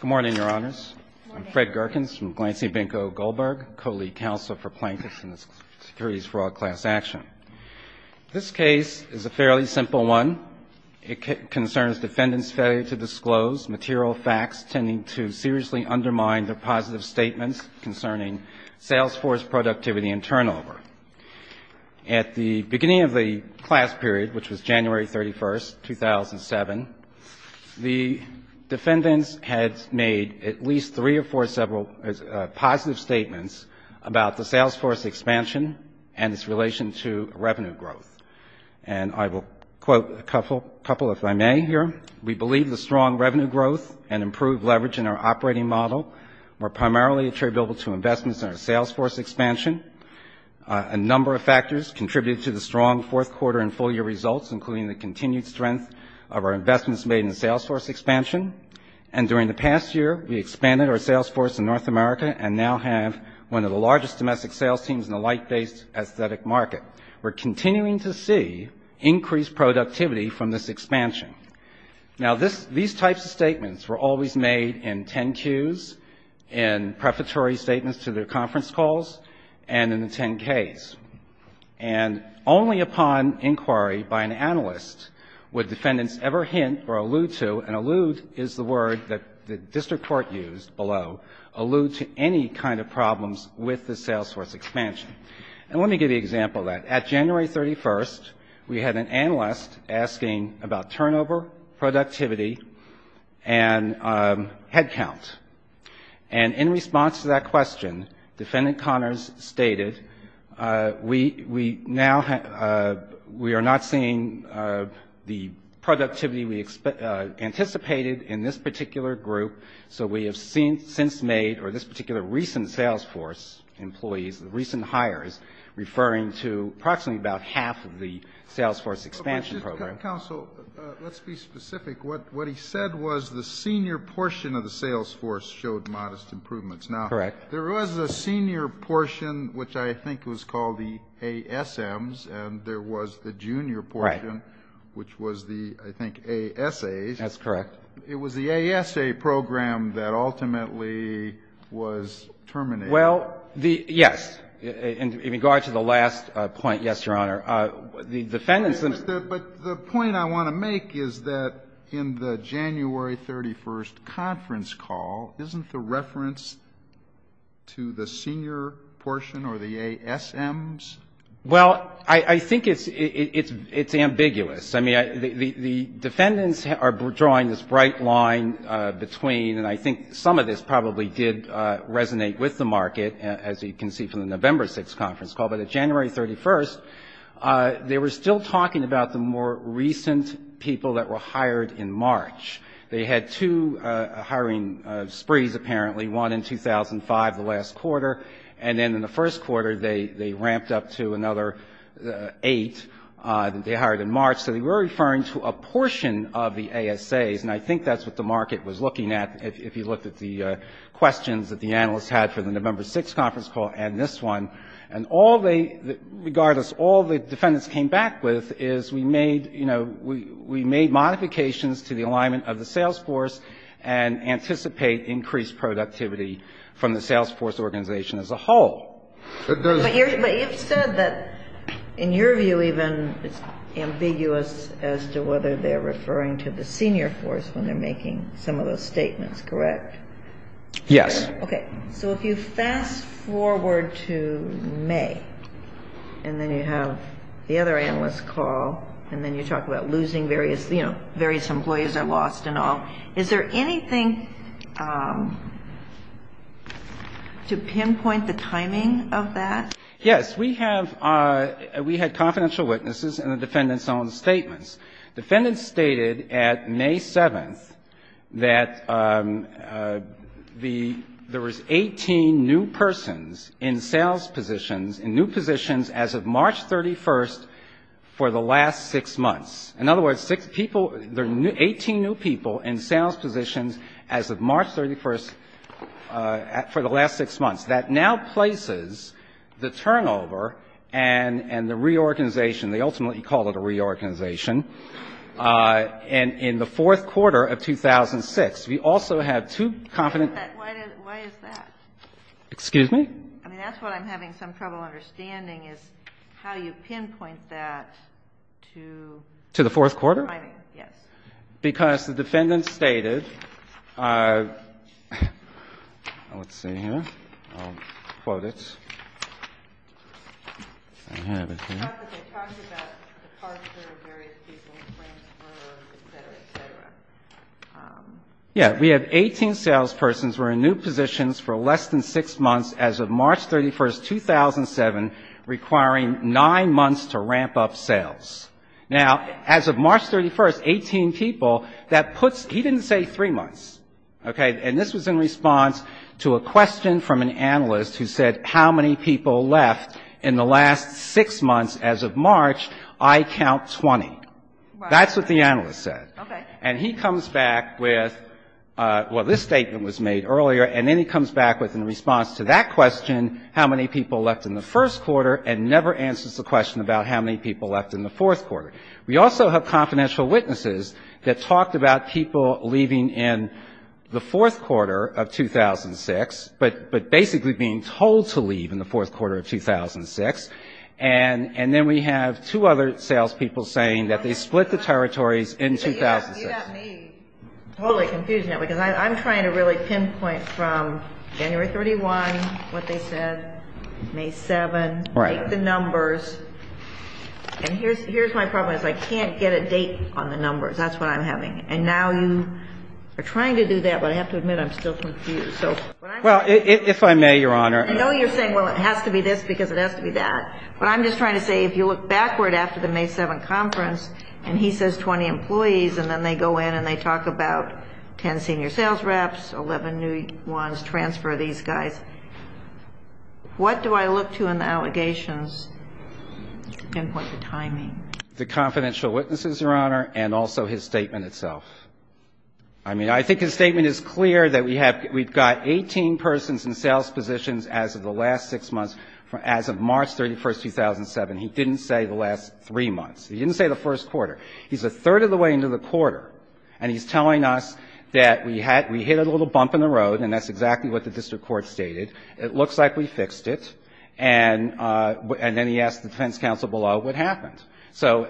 Good morning, Your Honors. I'm Fred Gerkens from Glancing Binko Goldberg, Co-Lead Counsel for Plaintiffs in the Securities Fraud Class Action. This case is a fairly simple one. It concerns defendants' failure to disclose material facts tending to seriously undermine their positive statements concerning Salesforce productivity and turnover. At the beginning of the class period, which was January 31, 2007, the defendants had made at least three or four positive statements about the Salesforce expansion and its relation to revenue growth. And I will quote a couple if I may here. We believe the strong revenue growth and improved leverage in our operating model were primarily attributable to investments in our Salesforce. A number of factors contributed to the strong fourth quarter and full year results, including the continued strength of our investments made in Salesforce expansion. And during the past year, we expanded our Salesforce in North America and now have one of the largest domestic sales teams in the light-based aesthetic market. We're continuing to see increased productivity from this expansion. Now, these types of statements were always made in 10-Qs, in prefatory statements to their conference calls, and in the 10-Ks. And only upon inquiry by an analyst would defendants ever hint or allude to, and allude is the word that the district court used below, allude to any kind of problems with the Salesforce expansion. And let me give you an example of that. At January 31, we had an analyst asking about turnover, productivity, and headcount. And in response to that question, defendant Connors stated, we now have, we are not seeing the productivity we anticipated in this particular group, so we have since made, or this particular recent Salesforce employees, recent hires, referring to approximately about half of the Salesforce expansion program. Counsel, let's be specific. What he said was the senior portion of the Salesforce showed modest improvements. Now, there was a senior portion, which I think was called the ASMs, and there was the junior portion, which was the, I think, ASAs. That's correct. It was the ASA program that ultimately was terminated. Well, the, yes, in regard to the last point, yes, Your Honor, the defendants. But the point I want to make is that in the January 31 conference call, isn't the reference to the senior portion or the ASMs? Well, I think it's ambiguous. I mean, the defendants are drawing this bright line between, and I think some of this probably did resonate with the market, as you can see from the November 6 conference call. But at January 31, they were still talking about the more recent people that were hired in March. They had two hiring sprees, apparently, one in 2005, the last quarter, and then in the first quarter, they ramped up to another eight that they hired in March. So they were referring to a portion of the ASAs, and I think that's what the market was looking at, if you looked at the questions that the defendants were asking. And I think what they, regardless, all the defendants came back with is we made, you know, we made modifications to the alignment of the sales force and anticipate increased productivity from the sales force organization as a whole. But you've said that, in your view even, it's ambiguous as to whether they're referring to the senior force when they're making some of those statements, correct? And then you have the other analyst call, and then you talk about losing various, you know, various employees are lost and all. Is there anything to pinpoint the timing of that? Yes. We have, we had confidential witnesses and the defendants' own statements. Defendants stated at May 7th that the, there was 18 new persons in sales positions, in new positions, that had been hired. And they were in sales positions as of March 31st for the last six months. In other words, six people, 18 new people in sales positions as of March 31st for the last six months. That now places the turnover and the reorganization, they ultimately call it a reorganization, in the fourth quarter of 2006. We also have two confident... Excuse me? I mean, that's what I'm having some trouble understanding is how you pinpoint that to... To the fourth quarter? I mean, yes. Because the defendants stated, let's see here, I'll quote it. I have it here. Yeah. We have 18 sales persons were in new positions for less than six months as of March 31st, 2007, requiring nine months to ramp up sales. Now, as of March 31st, 18 people, that puts, he didn't say three months. Okay? He said, and this was in response to a question from an analyst who said, how many people left in the last six months as of March? I count 20. That's what the analyst said. Okay. And he comes back with, well, this statement was made earlier, and then he comes back with, in response to that question, how many people left in the first quarter, and never answers the question about how many people left in the fourth quarter. And then we have two other sales people saying that they split the territories in 2006. You got me totally confused now, because I'm trying to really pinpoint from January 31, what they said, May 7, make the numbers, and here's my problem, is I can't get a date on the numbers. That's what I'm having, and now you are trying to do that, but I have to admit, I'm still confused. Well, if I may, Your Honor, I know you're saying, well, it has to be this, because it has to be that, but I'm just trying to say, if you look backward after the May 7 conference, and he says 20 employees, and then they go in and they talk about 10 senior sales reps, 11 new ones, transfer these guys, what do I look to in the allegations to pinpoint the timing? The confidential witnesses, Your Honor, and also his statement itself. I mean, I think his statement is clear that we have, we've got 18 persons in sales positions as of the last six months, as of March 31, 2007. He didn't say the last three months. He didn't say the first quarter. He's a third of the way into the quarter, and he's telling us that we had, we hit a little bump in the road, and that's exactly what the district court stated. It looks like we fixed it, and then he asked the defense counsel below what happened. So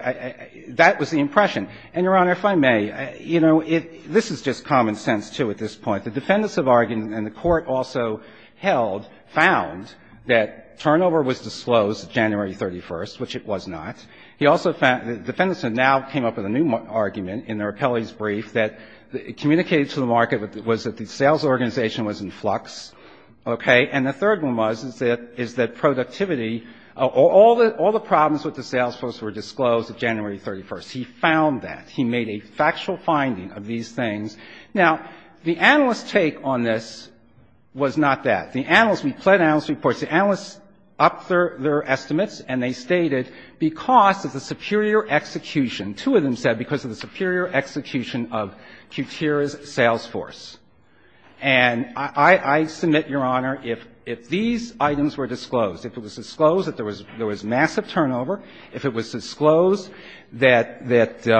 that was the impression, and, Your Honor, if I may, you know, this is just common sense, too, at this point. The defendants have argued, and the court also held, found that turnover was disclosed January 31st, which it was not. He also found, the defendants have now came up with a new argument in their appellee's brief that communicated to the market was that the sales organization was in flux, okay? And the third one was, is that productivity, all the problems with the sales force were disclosed January 31st. He found that. He made a factual finding of these things. Now, the analyst's take on this was not that. The analysts, we pled analyst reports, the analysts upped their estimates, and they stated because of the superior execution, two of them said because of the superior execution of Qutira's sales force. And I submit, Your Honor, if these items were disclosed, if it was disclosed that there was massive turnover, if it was disclosed that the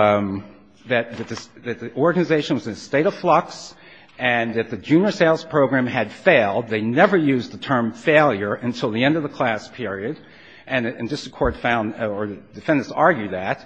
organization was in a state of flux and that the junior sales program had failed, they never used the term failure until the end of the class period, and just the court found, or the defendants argued that,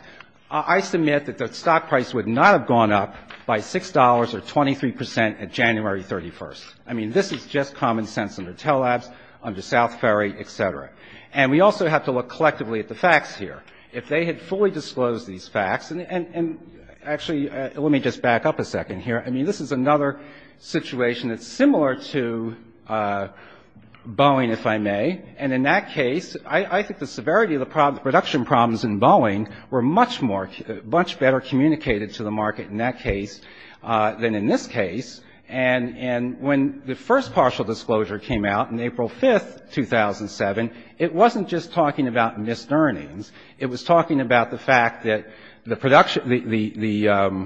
I submit that the stock price would not have gone up by $6 or 23 percent in January 31st. I mean, this is just common sense under Telabs, under South Ferry, et cetera. And we also have to look collectively at the facts here. If they had fully disclosed these facts, and actually, let me just back up a second here. I mean, this is another situation that's similar to Boeing, if I may, and in that case, I think the severity of the production problems in Boeing were much more, much better communicated to the market in that case than in this case. And when the first partial disclosure came out on April 5th, 2007, it wasn't just talking about missed earnings. It was talking about the fact that the production, the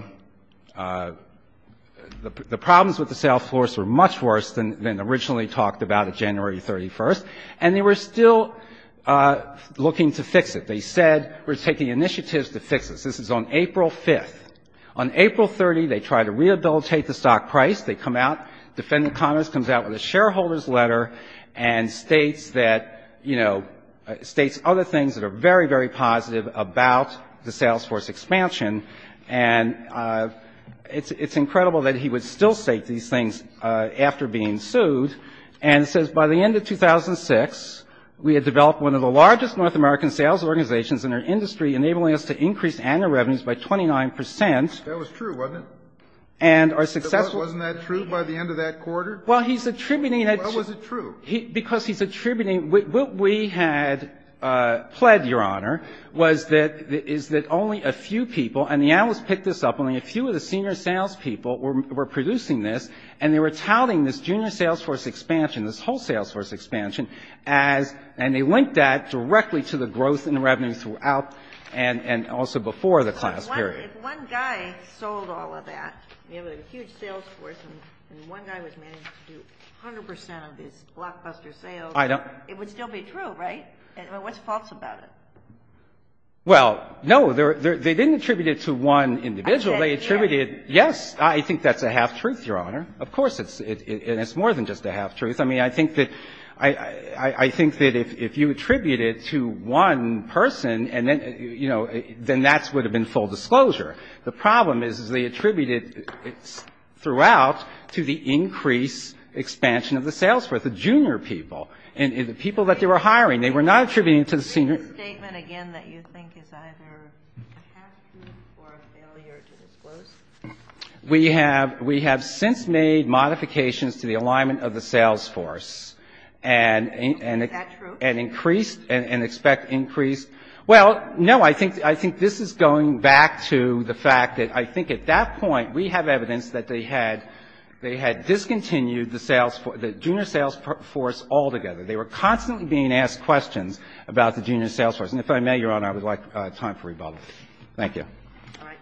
problems with the sales force were much worse than originally talked about on January 31st, and they were still looking to fix it. This is on April 5th. On April 30th, they try to rehabilitate the stock price. They come out. Defendant Connors comes out with a shareholder's letter and states that, you know, states other things that are very, very positive about the sales force expansion, and it's incredible that he would still state these things after being sued, and says, by the end of 2006, we had developed one of the largest North American sales organizations in our industry, enabling us to increase annual revenues by 29%. That was true, wasn't it? Wasn't that true by the end of that quarter? Well, he's attributing that to you. Why was it true? Because he's attributing what we had pled, Your Honor, was that only a few people, and the analysts picked this up, only a few of the senior sales people were producing this, and they were touting this junior sales force expansion, this whole sales force expansion, and they linked that directly to the growth in revenues throughout, and also before the class period. If one guy sold all of that, we have a huge sales force, and one guy was managing to do 100% of his blockbuster sales, it would still be true, right? What's false about it? Well, no, they didn't attribute it to one individual. They attributed yes, I think that's a half-truth, Your Honor. Of course, it's more than just a half-truth. I mean, I think that if you attribute it to one person, and then, you know, then that would have been full disclosure. The problem is they attribute it throughout to the increased expansion of the sales force, the junior people. And the people that they were hiring, they were not attributing it to the senior So it's a half-truth. So is this a statement, again, that you think is either a half-truth or a failure to disclose? We have since made modifications to the alignment of the sales force. Is that true? And increased, and expect increased. Well, no, I think this is going back to the fact that I think at that point we have evidence that they had discontinued the junior sales force altogether. They were constantly being asked questions about the junior sales force. And if I may, Your Honor, I would like time for rebuttal. Thank you. All right.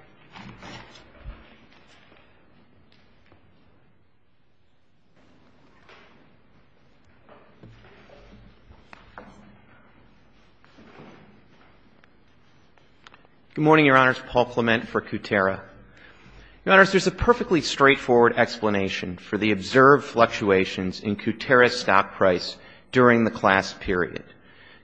Good morning, Your Honors. Paul Clement for Kutera. Your Honors, there's a perfectly straightforward explanation for the observed fluctuations in Kutera's stock price during the class period.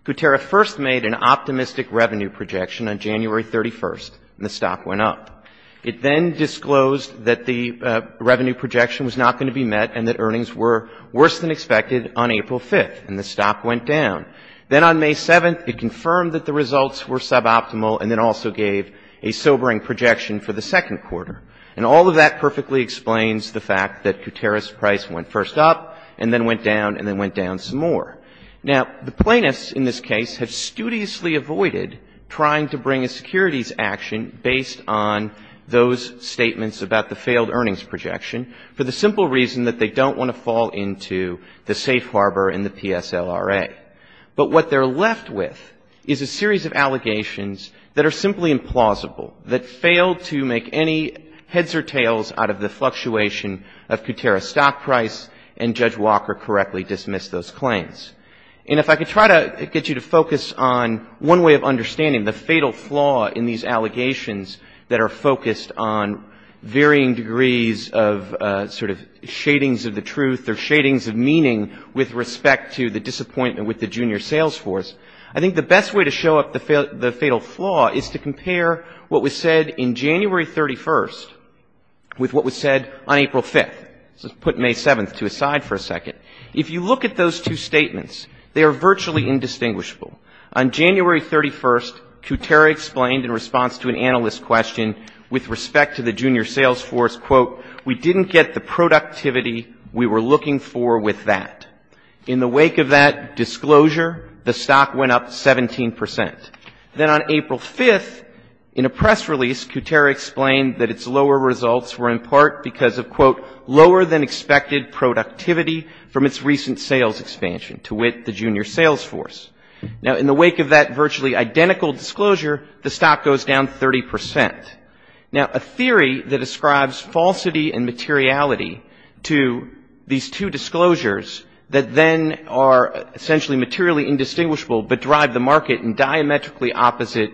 Kutera first made an optimistic revenue projection on January 31st, and the stock went up. It then disclosed that the revenue projection was not going to be met and that earnings were worse than expected on April 5th, and the stock went down. Then on May 7th, it confirmed that the results were suboptimal and then also gave a sobering projection for the second quarter. And all of that perfectly explains the fact that Kutera's price went first up and then went down and then went down some more. Now, the plaintiffs in this case have studiously avoided trying to bring a securities action based on those statements about the failed earnings projection for the simple reason that they don't want to fall into the safe harbor and the PSLRA. But what they're left with is a series of allegations that are simply implausible, that fail to make any heads or tails out of the fluctuation of Kutera's stock price, and Judge Walker correctly dismissed those claims. And if I could try to get you to focus on one way of understanding the fatal flaw in these allegations that are focused on varying degrees of sort of shadings of the truth or shadings of meaning with respect to the disappointment with the junior sales force, I think the best way to show up the fatal flaw is to compare what was said in January 31st with what was said on April 5th. So let's put May 7th to the side for a second. If you look at those two statements, they are virtually indistinguishable. On January 31st, Kutera explained in response to an analyst question with respect to the junior sales force, quote, we didn't get the productivity we were looking for with that. In the wake of that disclosure, the stock went up 17%. Then on April 5th, in a press release, Kutera explained that its lower results were in part because of, quote, lower than expected productivity from its recent sales expansion to wit the junior sales force. Now, in the wake of that virtually identical disclosure, the stock goes down 30%. Now, a theory that ascribes falsity and materiality to these two disclosures that then are essentially materially indistinguishable but drive the market in diametrically opposite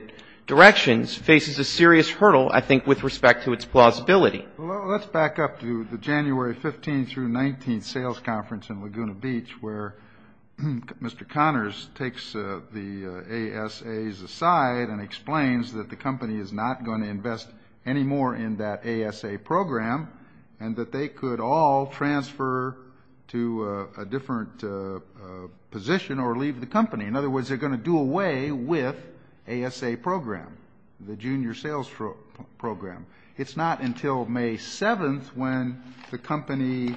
directions faces a serious hurdle, I think, with respect to its plausibility. Well, let's back up to the January 15th through 19th sales conference in Laguna Beach, where Mr. Connors takes the ASAs aside and explains that the company is not going to invest any more in that ASA program and that they could all transfer to a different position or leave the company. In other words, they're going to do away with ASA program, the junior sales program. It's not until May 7th when the company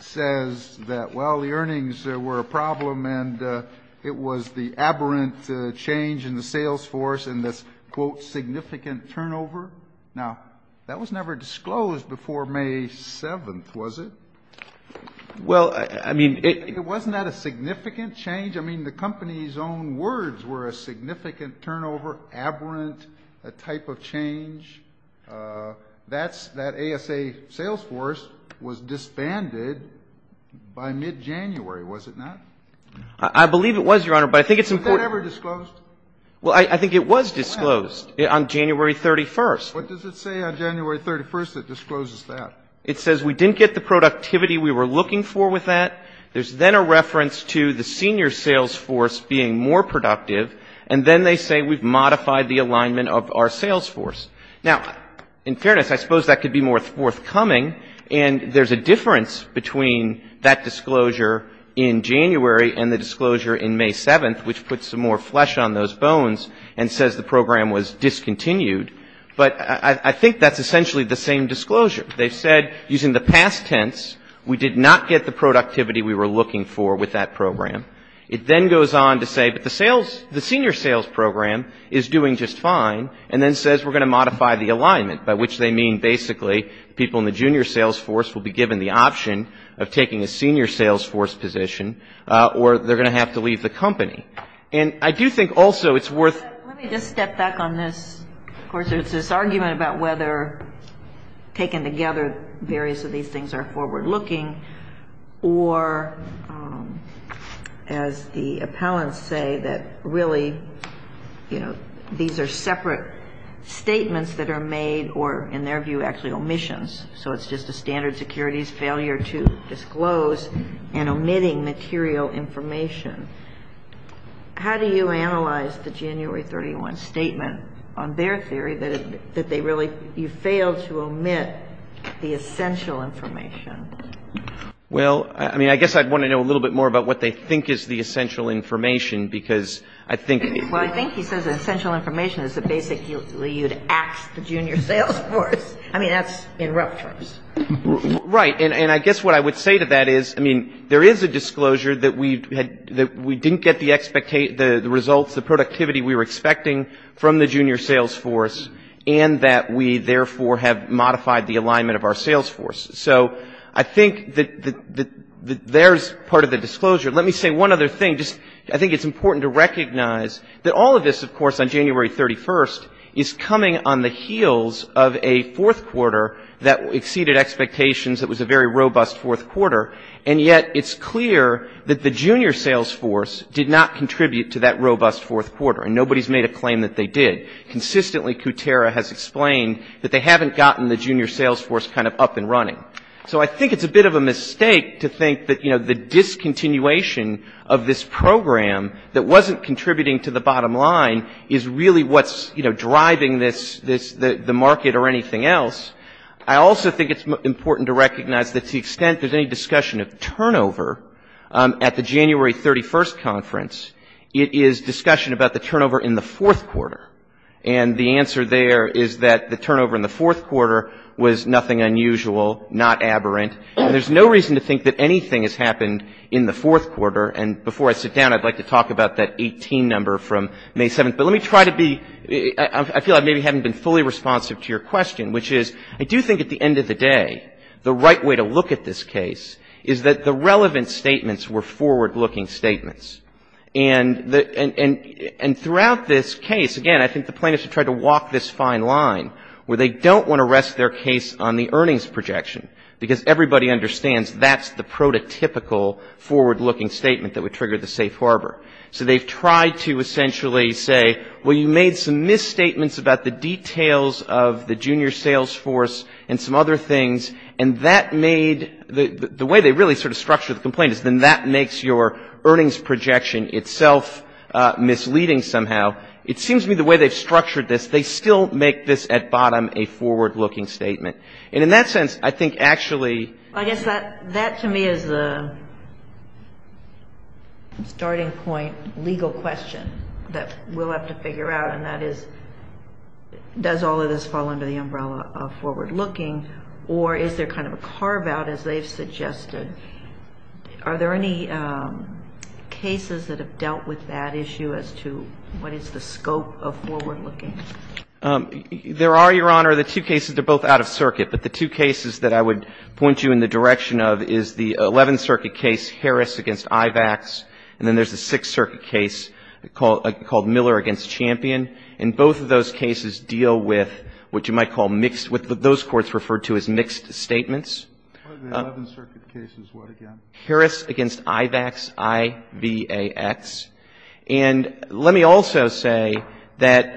says that, well, the earnings were a problem and it was the aberrant change in the sales force and this, quote, significant turnover. Now, that was never disclosed before May 7th, was it? Well, I mean, it was not a significant change. I mean, the company's own words were a significant turnover, aberrant type of change. That ASA sales force was disbanded by mid-January, was it not? I believe it was, Your Honor, but I think it's important. Was that ever disclosed? Well, I think it was disclosed on January 31st. What does it say on January 31st that discloses that? It says we didn't get the productivity we were looking for with that. There's then a reference to the senior sales force being more productive, and then they say we've modified the alignment of our sales force. Now, in fairness, I suppose that could be more forthcoming, and there's a difference between that disclosure in January and the disclosure in May 7th, which puts some more flesh on those bones and says the program was discontinued. But I think that's essentially the same disclosure. They've said, using the past tense, we did not get the productivity we were looking for with that program. It then goes on to say, but the sales, the senior sales program is doing just fine, and then says we're going to modify the alignment, by which they mean basically people in the junior sales force will be given the option of taking a senior sales force position or they're going to have to leave the company. And I do think also it's worth ---- Let me just step back on this. Of course, there's this argument about whether taken together, various of these things are forward-looking or, as the appellants say, that really, you know, these are separate statements that are made or, in their view, actually omissions. So it's just a standard securities failure to disclose and omitting material information. How do you analyze the January 31 statement on their theory that they really ---- you failed to omit the essential information? Well, I mean, I guess I'd want to know a little bit more about what they think is the essential information because I think ---- Well, I think he says the essential information is that basically you'd ask the junior sales force. I mean, that's in rough terms. Right. And I guess what I would say to that is, I mean, there is a disclosure that we didn't get the results, the productivity we were expecting from the junior sales force, and that we, therefore, have modified the alignment of our sales force. So I think that there's part of the disclosure. Let me say one other thing. Just I think it's important to recognize that all of this, of course, on January 31, is coming on the heels of a fourth quarter that exceeded expectations, that was a very robust fourth quarter, and yet it's clear that the junior sales force did not contribute to that robust fourth quarter, and nobody's made a claim that they did. Consistently, Kutera has explained that they haven't gotten the junior sales force kind of up and running. So I think it's a bit of a mistake to think that, you know, the discontinuation of this program that wasn't contributing to the bottom line is really what's, you know, driving the market or anything else. I also think it's important to recognize that to the extent there's any discussion of turnover at the January 31 conference, it is discussion about the turnover in the fourth quarter. And the answer there is that the turnover in the fourth quarter was nothing unusual, not aberrant. And there's no reason to think that anything has happened in the fourth quarter. And before I sit down, I'd like to talk about that 18 number from May 7th. But let me try to be, I feel I maybe haven't been fully responsive to your question, which is I do think at the end of the day, the right way to look at this case is that the relevant statements were forward-looking statements. And throughout this case, again, I think the plaintiffs have tried to walk this fine line where they don't want to rest their case on the earnings projection, because everybody understands that's the prototypical forward-looking statement that would trigger the safe harbor. So they've tried to essentially say, well, you made some misstatements about the details of the junior sales force and some other things, and that made the way they really sort of structured the complaint is then that makes your earnings projection itself misleading somehow. It seems to me the way they've structured this, they still make this at bottom a forward-looking statement. And in that sense, I think actually ---- I guess that to me is a starting point legal question that we'll have to figure out, and that is does all of this fall under the umbrella of forward-looking, or is there kind of a carve-out, as they've suggested? Are there any cases that have dealt with that issue as to what is the scope of forward-looking? There are, Your Honor, the two cases. They're both out of circuit. But the two cases that I would point you in the direction of is the Eleventh Circuit case, Harris v. Ivax, and then there's the Sixth Circuit case called Miller v. Champion. And both of those cases deal with what you might call mixed ---- what those courts referred to as mixed statements. The Eleventh Circuit case is what again? Harris v. Ivax, I-V-A-X. And let me also say that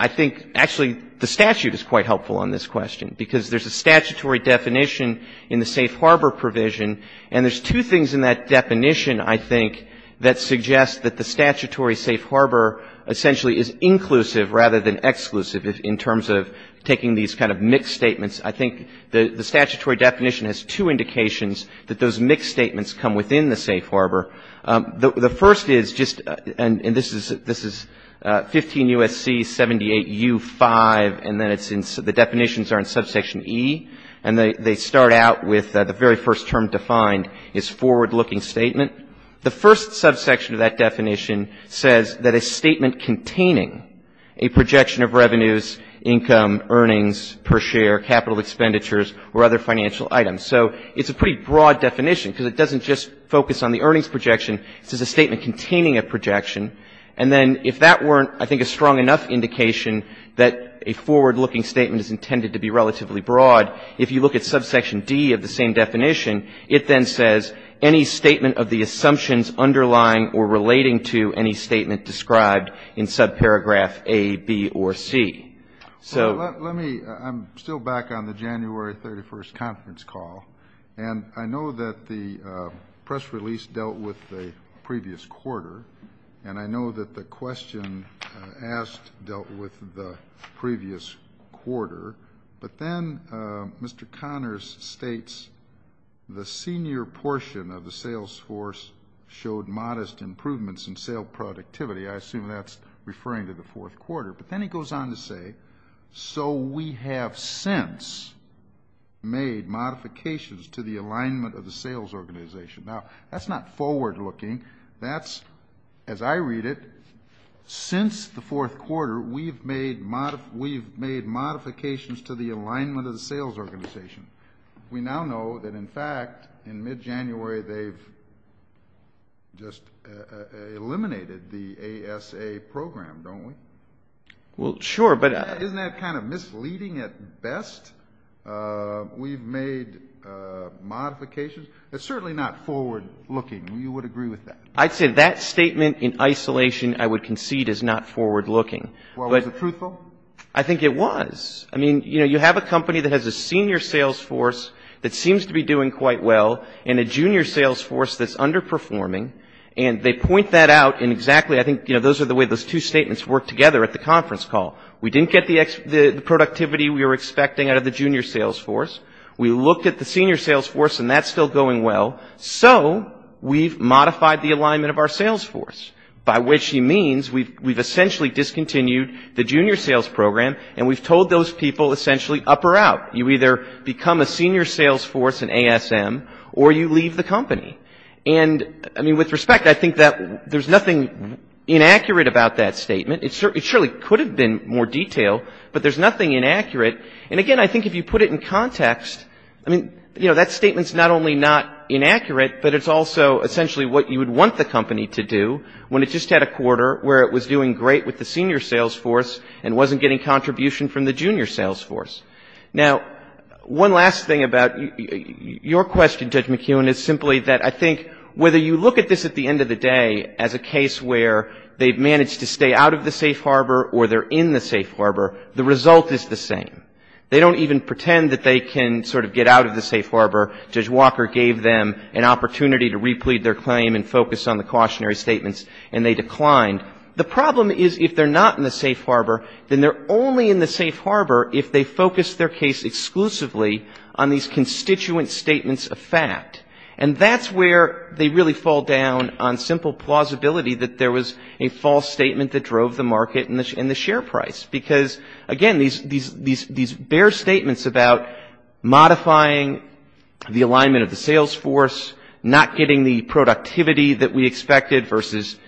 I think actually the statute is quite helpful on this question because there's a statutory definition in the safe harbor provision, and there's two things in that definition, I think, that suggest that the statutory safe harbor essentially is inclusive rather than exclusive in terms of taking these kind of mixed statements. I think the statutory definition has two indications that those mixed statements come within the safe harbor. The first is just ---- and this is 15 U.S.C. 78U5, and then it's in ---- the definitions are in subsection E. And they start out with the very first term defined is forward-looking statement. The first subsection of that definition says that a statement containing a projection of revenues, income, earnings per share, capital expenditures, or other financial items. So it's a pretty broad definition because it doesn't just focus on the earnings projection. It says a statement containing a projection. And then if that weren't, I think, a strong enough indication that a forward-looking statement is intended to be relatively broad, if you look at subsection D of the same definition, it then says any statement of the assumptions underlying or relating to any statement described in subparagraph A, B, or C. So ---- Well, let me ---- I'm still back on the January 31st conference call. And I know that the press release dealt with the previous quarter, and I know that the question asked dealt with the previous quarter. But then Mr. Connors states the senior portion of the sales force showed modest improvements in sale productivity. I assume that's referring to the fourth quarter. But then he goes on to say, so we have since made modifications to the alignment of the sales organization. Now, that's not forward-looking. That's, as I read it, since the fourth quarter, we've made modifications to the alignment of the sales organization. We now know that, in fact, in mid-January, they've just eliminated the ASA program, don't we? Well, sure, but ---- Isn't that kind of misleading at best? We've made modifications. It's certainly not forward-looking. You would agree with that. I'd say that statement in isolation I would concede is not forward-looking. Well, was it truthful? I think it was. I mean, you know, you have a company that has a senior sales force that seems to be doing quite well and a junior sales force that's underperforming, and they point that out in exactly, I think, you know, those are the way those two statements work together at the conference call. We didn't get the productivity we were expecting out of the junior sales force. We looked at the senior sales force, and that's still going well. So we've modified the alignment of our sales force, by which he means we've essentially discontinued the up or out. You either become a senior sales force in ASM or you leave the company. And, I mean, with respect, I think that there's nothing inaccurate about that statement. It surely could have been more detailed, but there's nothing inaccurate. And, again, I think if you put it in context, I mean, you know, that statement's not only not inaccurate, but it's also essentially what you would want the company to do when it just had a quarter where it was doing great with the senior sales force and wasn't getting contribution from the junior sales force. Now, one last thing about your question, Judge McKeown, is simply that, I think, whether you look at this at the end of the day as a case where they've managed to stay out of the safe harbor or they're in the safe harbor, the result is the same. They don't even pretend that they can sort of get out of the safe harbor. Judge Walker gave them an opportunity to replete their claim and focus on the cautionary statements, and they declined. The problem is if they're not in the safe harbor, then they're only in the safe harbor if they focus their case exclusively on these constituent statements of fact. And that's where they really fall down on simple plausibility that there was a false statement that drove the market and the share price. Because, again, these bare statements about modifying the alignment of the sales force, not getting the productivity that we expected versus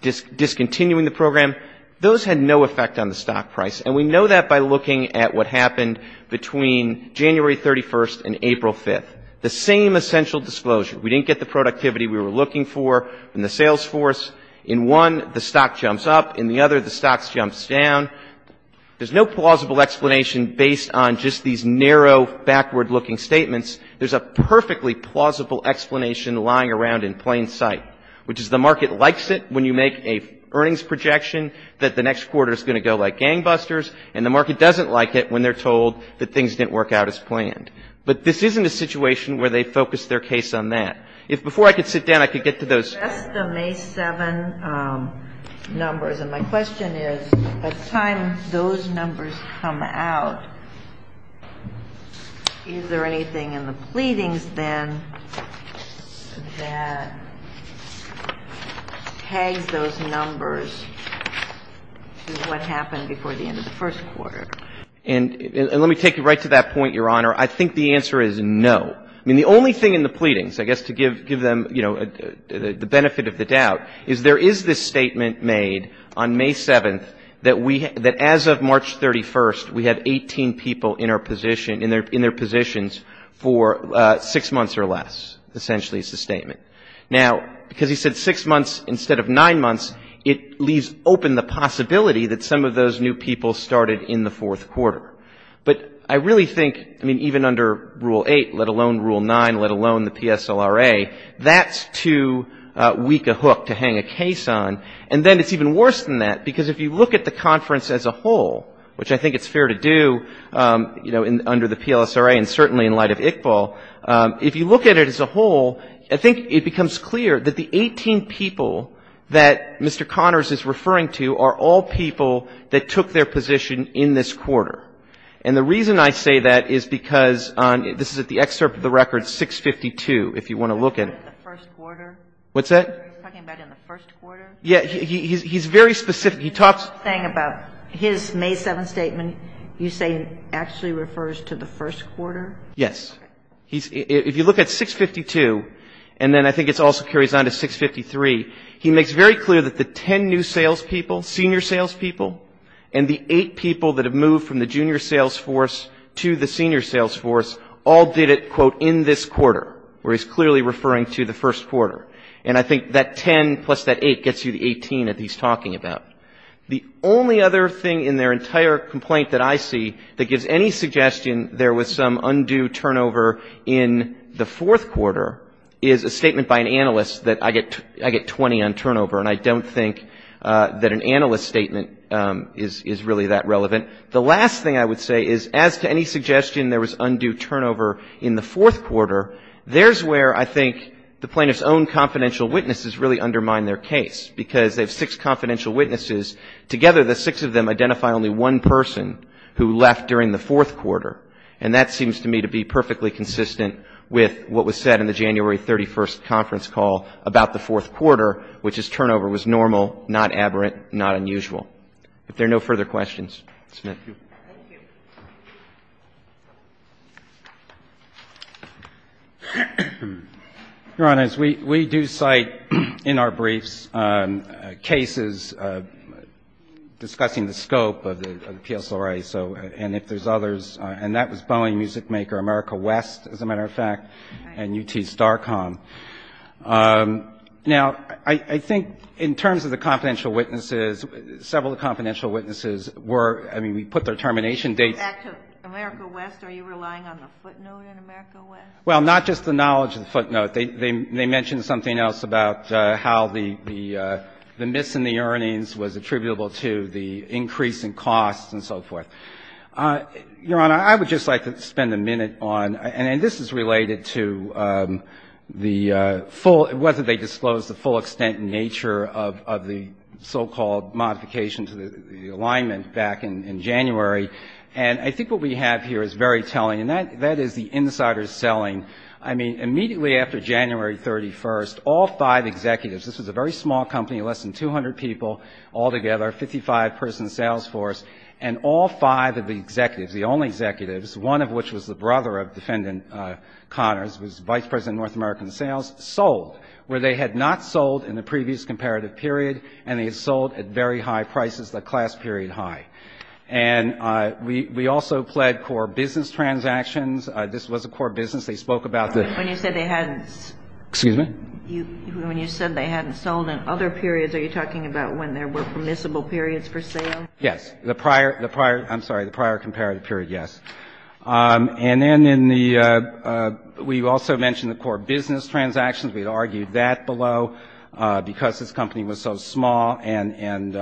discontinuing the program, those had no effect on the stock price. And we know that by looking at what happened between January 31st and April 5th. The same essential disclosure. We didn't get the productivity we were looking for in the sales force. In one, the stock jumps up. In the other, the stock jumps down. There's no plausible explanation based on just these narrow, backward-looking statements. There's a perfectly plausible explanation lying around in plain sight, which is the market likes it when you make an earnings projection that the next quarter is going to go like gangbusters, and the market doesn't like it when they're told that things didn't work out as planned. But this isn't a situation where they focus their case on that. If before I could sit down, I could get to those. The rest of May 7 numbers, and my question is, by the time those numbers come out, is there anything in the pleadings, then, that tags those numbers to what happened before the end of the first quarter? And let me take you right to that point, Your Honor. I think the answer is no. I mean, the only thing in the pleadings, I guess to give them, you know, the benefit of the doubt, is there is this statement made on May 7 that as of March 31, we had 18 people in their positions for six months or less, essentially, is the statement. Now, because he said six months instead of nine months, it leaves open the possibility that some of those new people started in the fourth quarter. But I really think, I mean, even under Rule 8, let alone Rule 9, let alone the PSLRA, that's too weak a hook to hang a case on. And then it's even worse than that, because if you look at the conference as a whole, which I think it's fair to do, you know, under the PLSRA and certainly in light of Iqbal, if you look at it as a whole, I think it becomes clear that the 18 people that Mr. Connors is referring to are all people that took their position in this quarter. And the reason I say that is because this is at the excerpt of the record, 652, if you want to look at it. The first quarter? What's that? Are you talking about in the first quarter? Yeah. He's very specific. He talks. The thing about his May 7 statement you say actually refers to the first quarter? Yes. If you look at 652, and then I think it also carries on to 653, he makes very clear that the 10 new salespeople, senior salespeople, and the eight people that have moved from the junior salesforce to the senior salesforce all did it, quote, in this quarter, where he's clearly referring to the first quarter. And I think that 10 plus that 8 gets you the 18 that he's talking about. The only other thing in their entire complaint that I see that gives any suggestion there was some undue turnover in the fourth quarter is a statement by an analyst that I get 20 on turnover, and I don't think that an analyst statement is really that relevant. The last thing I would say is as to any suggestion there was undue turnover in the fourth quarter, there's where I think the plaintiff's own confidential witnesses really undermine their case, because they have six confidential witnesses. Together, the six of them identify only one person who left during the fourth quarter, and that seems to me to be perfectly consistent with what was said in the January 31st conference call about the fourth quarter, which is turnover was normal, not aberrant, not unusual. If there are no further questions, Mr. Smith. Thank you. Your Honors, we do cite in our briefs cases discussing the scope of the PSRA, and if there's others, and that was Boeing Music Maker, America West, as a matter of fact, and UT Starcom. Now, I think in terms of the confidential witnesses, several of the confidential witnesses were, I mean, we put their termination dates. America West, are you relying on the footnote in America West? They mentioned something else about how the miss in the earnings was attributable to the increase in costs and so forth. Your Honor, I would just like to spend a minute on, and this is related to the full – whether they disclosed the full extent and nature of the so-called modification to the alignment back in January. And I think what we have here is very telling, and that is the insider selling. I mean, immediately after January 31st, all five executives, this was a very small company, less than 200 people altogether, 55-person sales force, and all five of the executives, the only executives, one of which was the brother of Defendant Connors, was Vice President of North American Sales, sold, where they had not sold in the previous comparative period, and they had sold at very high prices, the class period high. And we also pled core business transactions. This was a core business. They spoke about the – When you said they hadn't – Excuse me? When you said they hadn't sold in other periods, are you talking about when there were permissible periods for sale? Yes. The prior – I'm sorry, the prior comparative period, yes. And then in the – we also mentioned the core business transactions. We had argued that below because this company was so small, and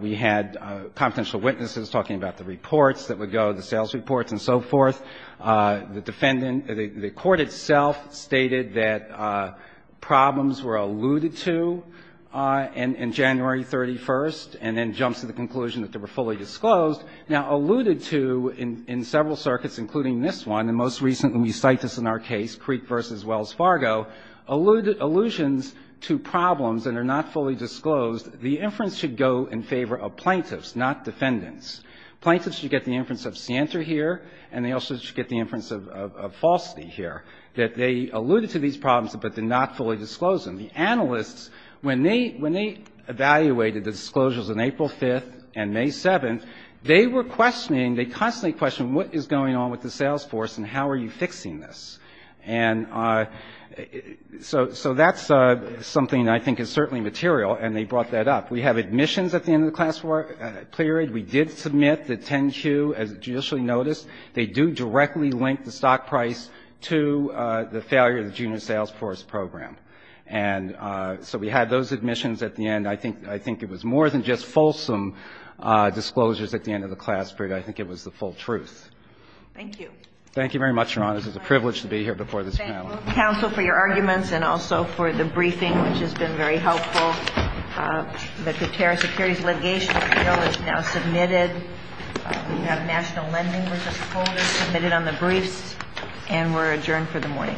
we had confidential witnesses talking about the reports that would go, the sales reports and so forth. The defendant – the court itself stated that problems were alluded to in January 31st and then jumps to the conclusion that they were fully disclosed. Now, alluded to in several circuits, including this one, and most recently we cite this in our case, Creek v. Wells Fargo, allusions to problems that are not fully disclosed. The inference should go in favor of plaintiffs, not defendants. Plaintiffs should get the inference of scienter here, and they also should get the inference of falsity here, that they alluded to these problems, but they're not fully disclosed. And the analysts, when they evaluated the disclosures on April 5th and May 7th, they were questioning – they constantly questioned what is going on with the sales force and how are you fixing this. And so that's something I think is certainly material, and they brought that up. We have admissions at the end of the class period. We did submit the 10-Q as judicially noticed. They do directly link the stock price to the failure of the junior sales force program. And so we had those admissions at the end. I think it was more than just fulsome disclosures at the end of the class period. I think it was the full truth. Thank you. Thank you very much, Your Honor. This is a privilege to be here before this panel. Thank you, counsel, for your arguments and also for the briefing, which has been very helpful. The Qatar Securities Litigation Appeal is now submitted. We have national lending, which is fully submitted on the briefs. And we're adjourned for the morning.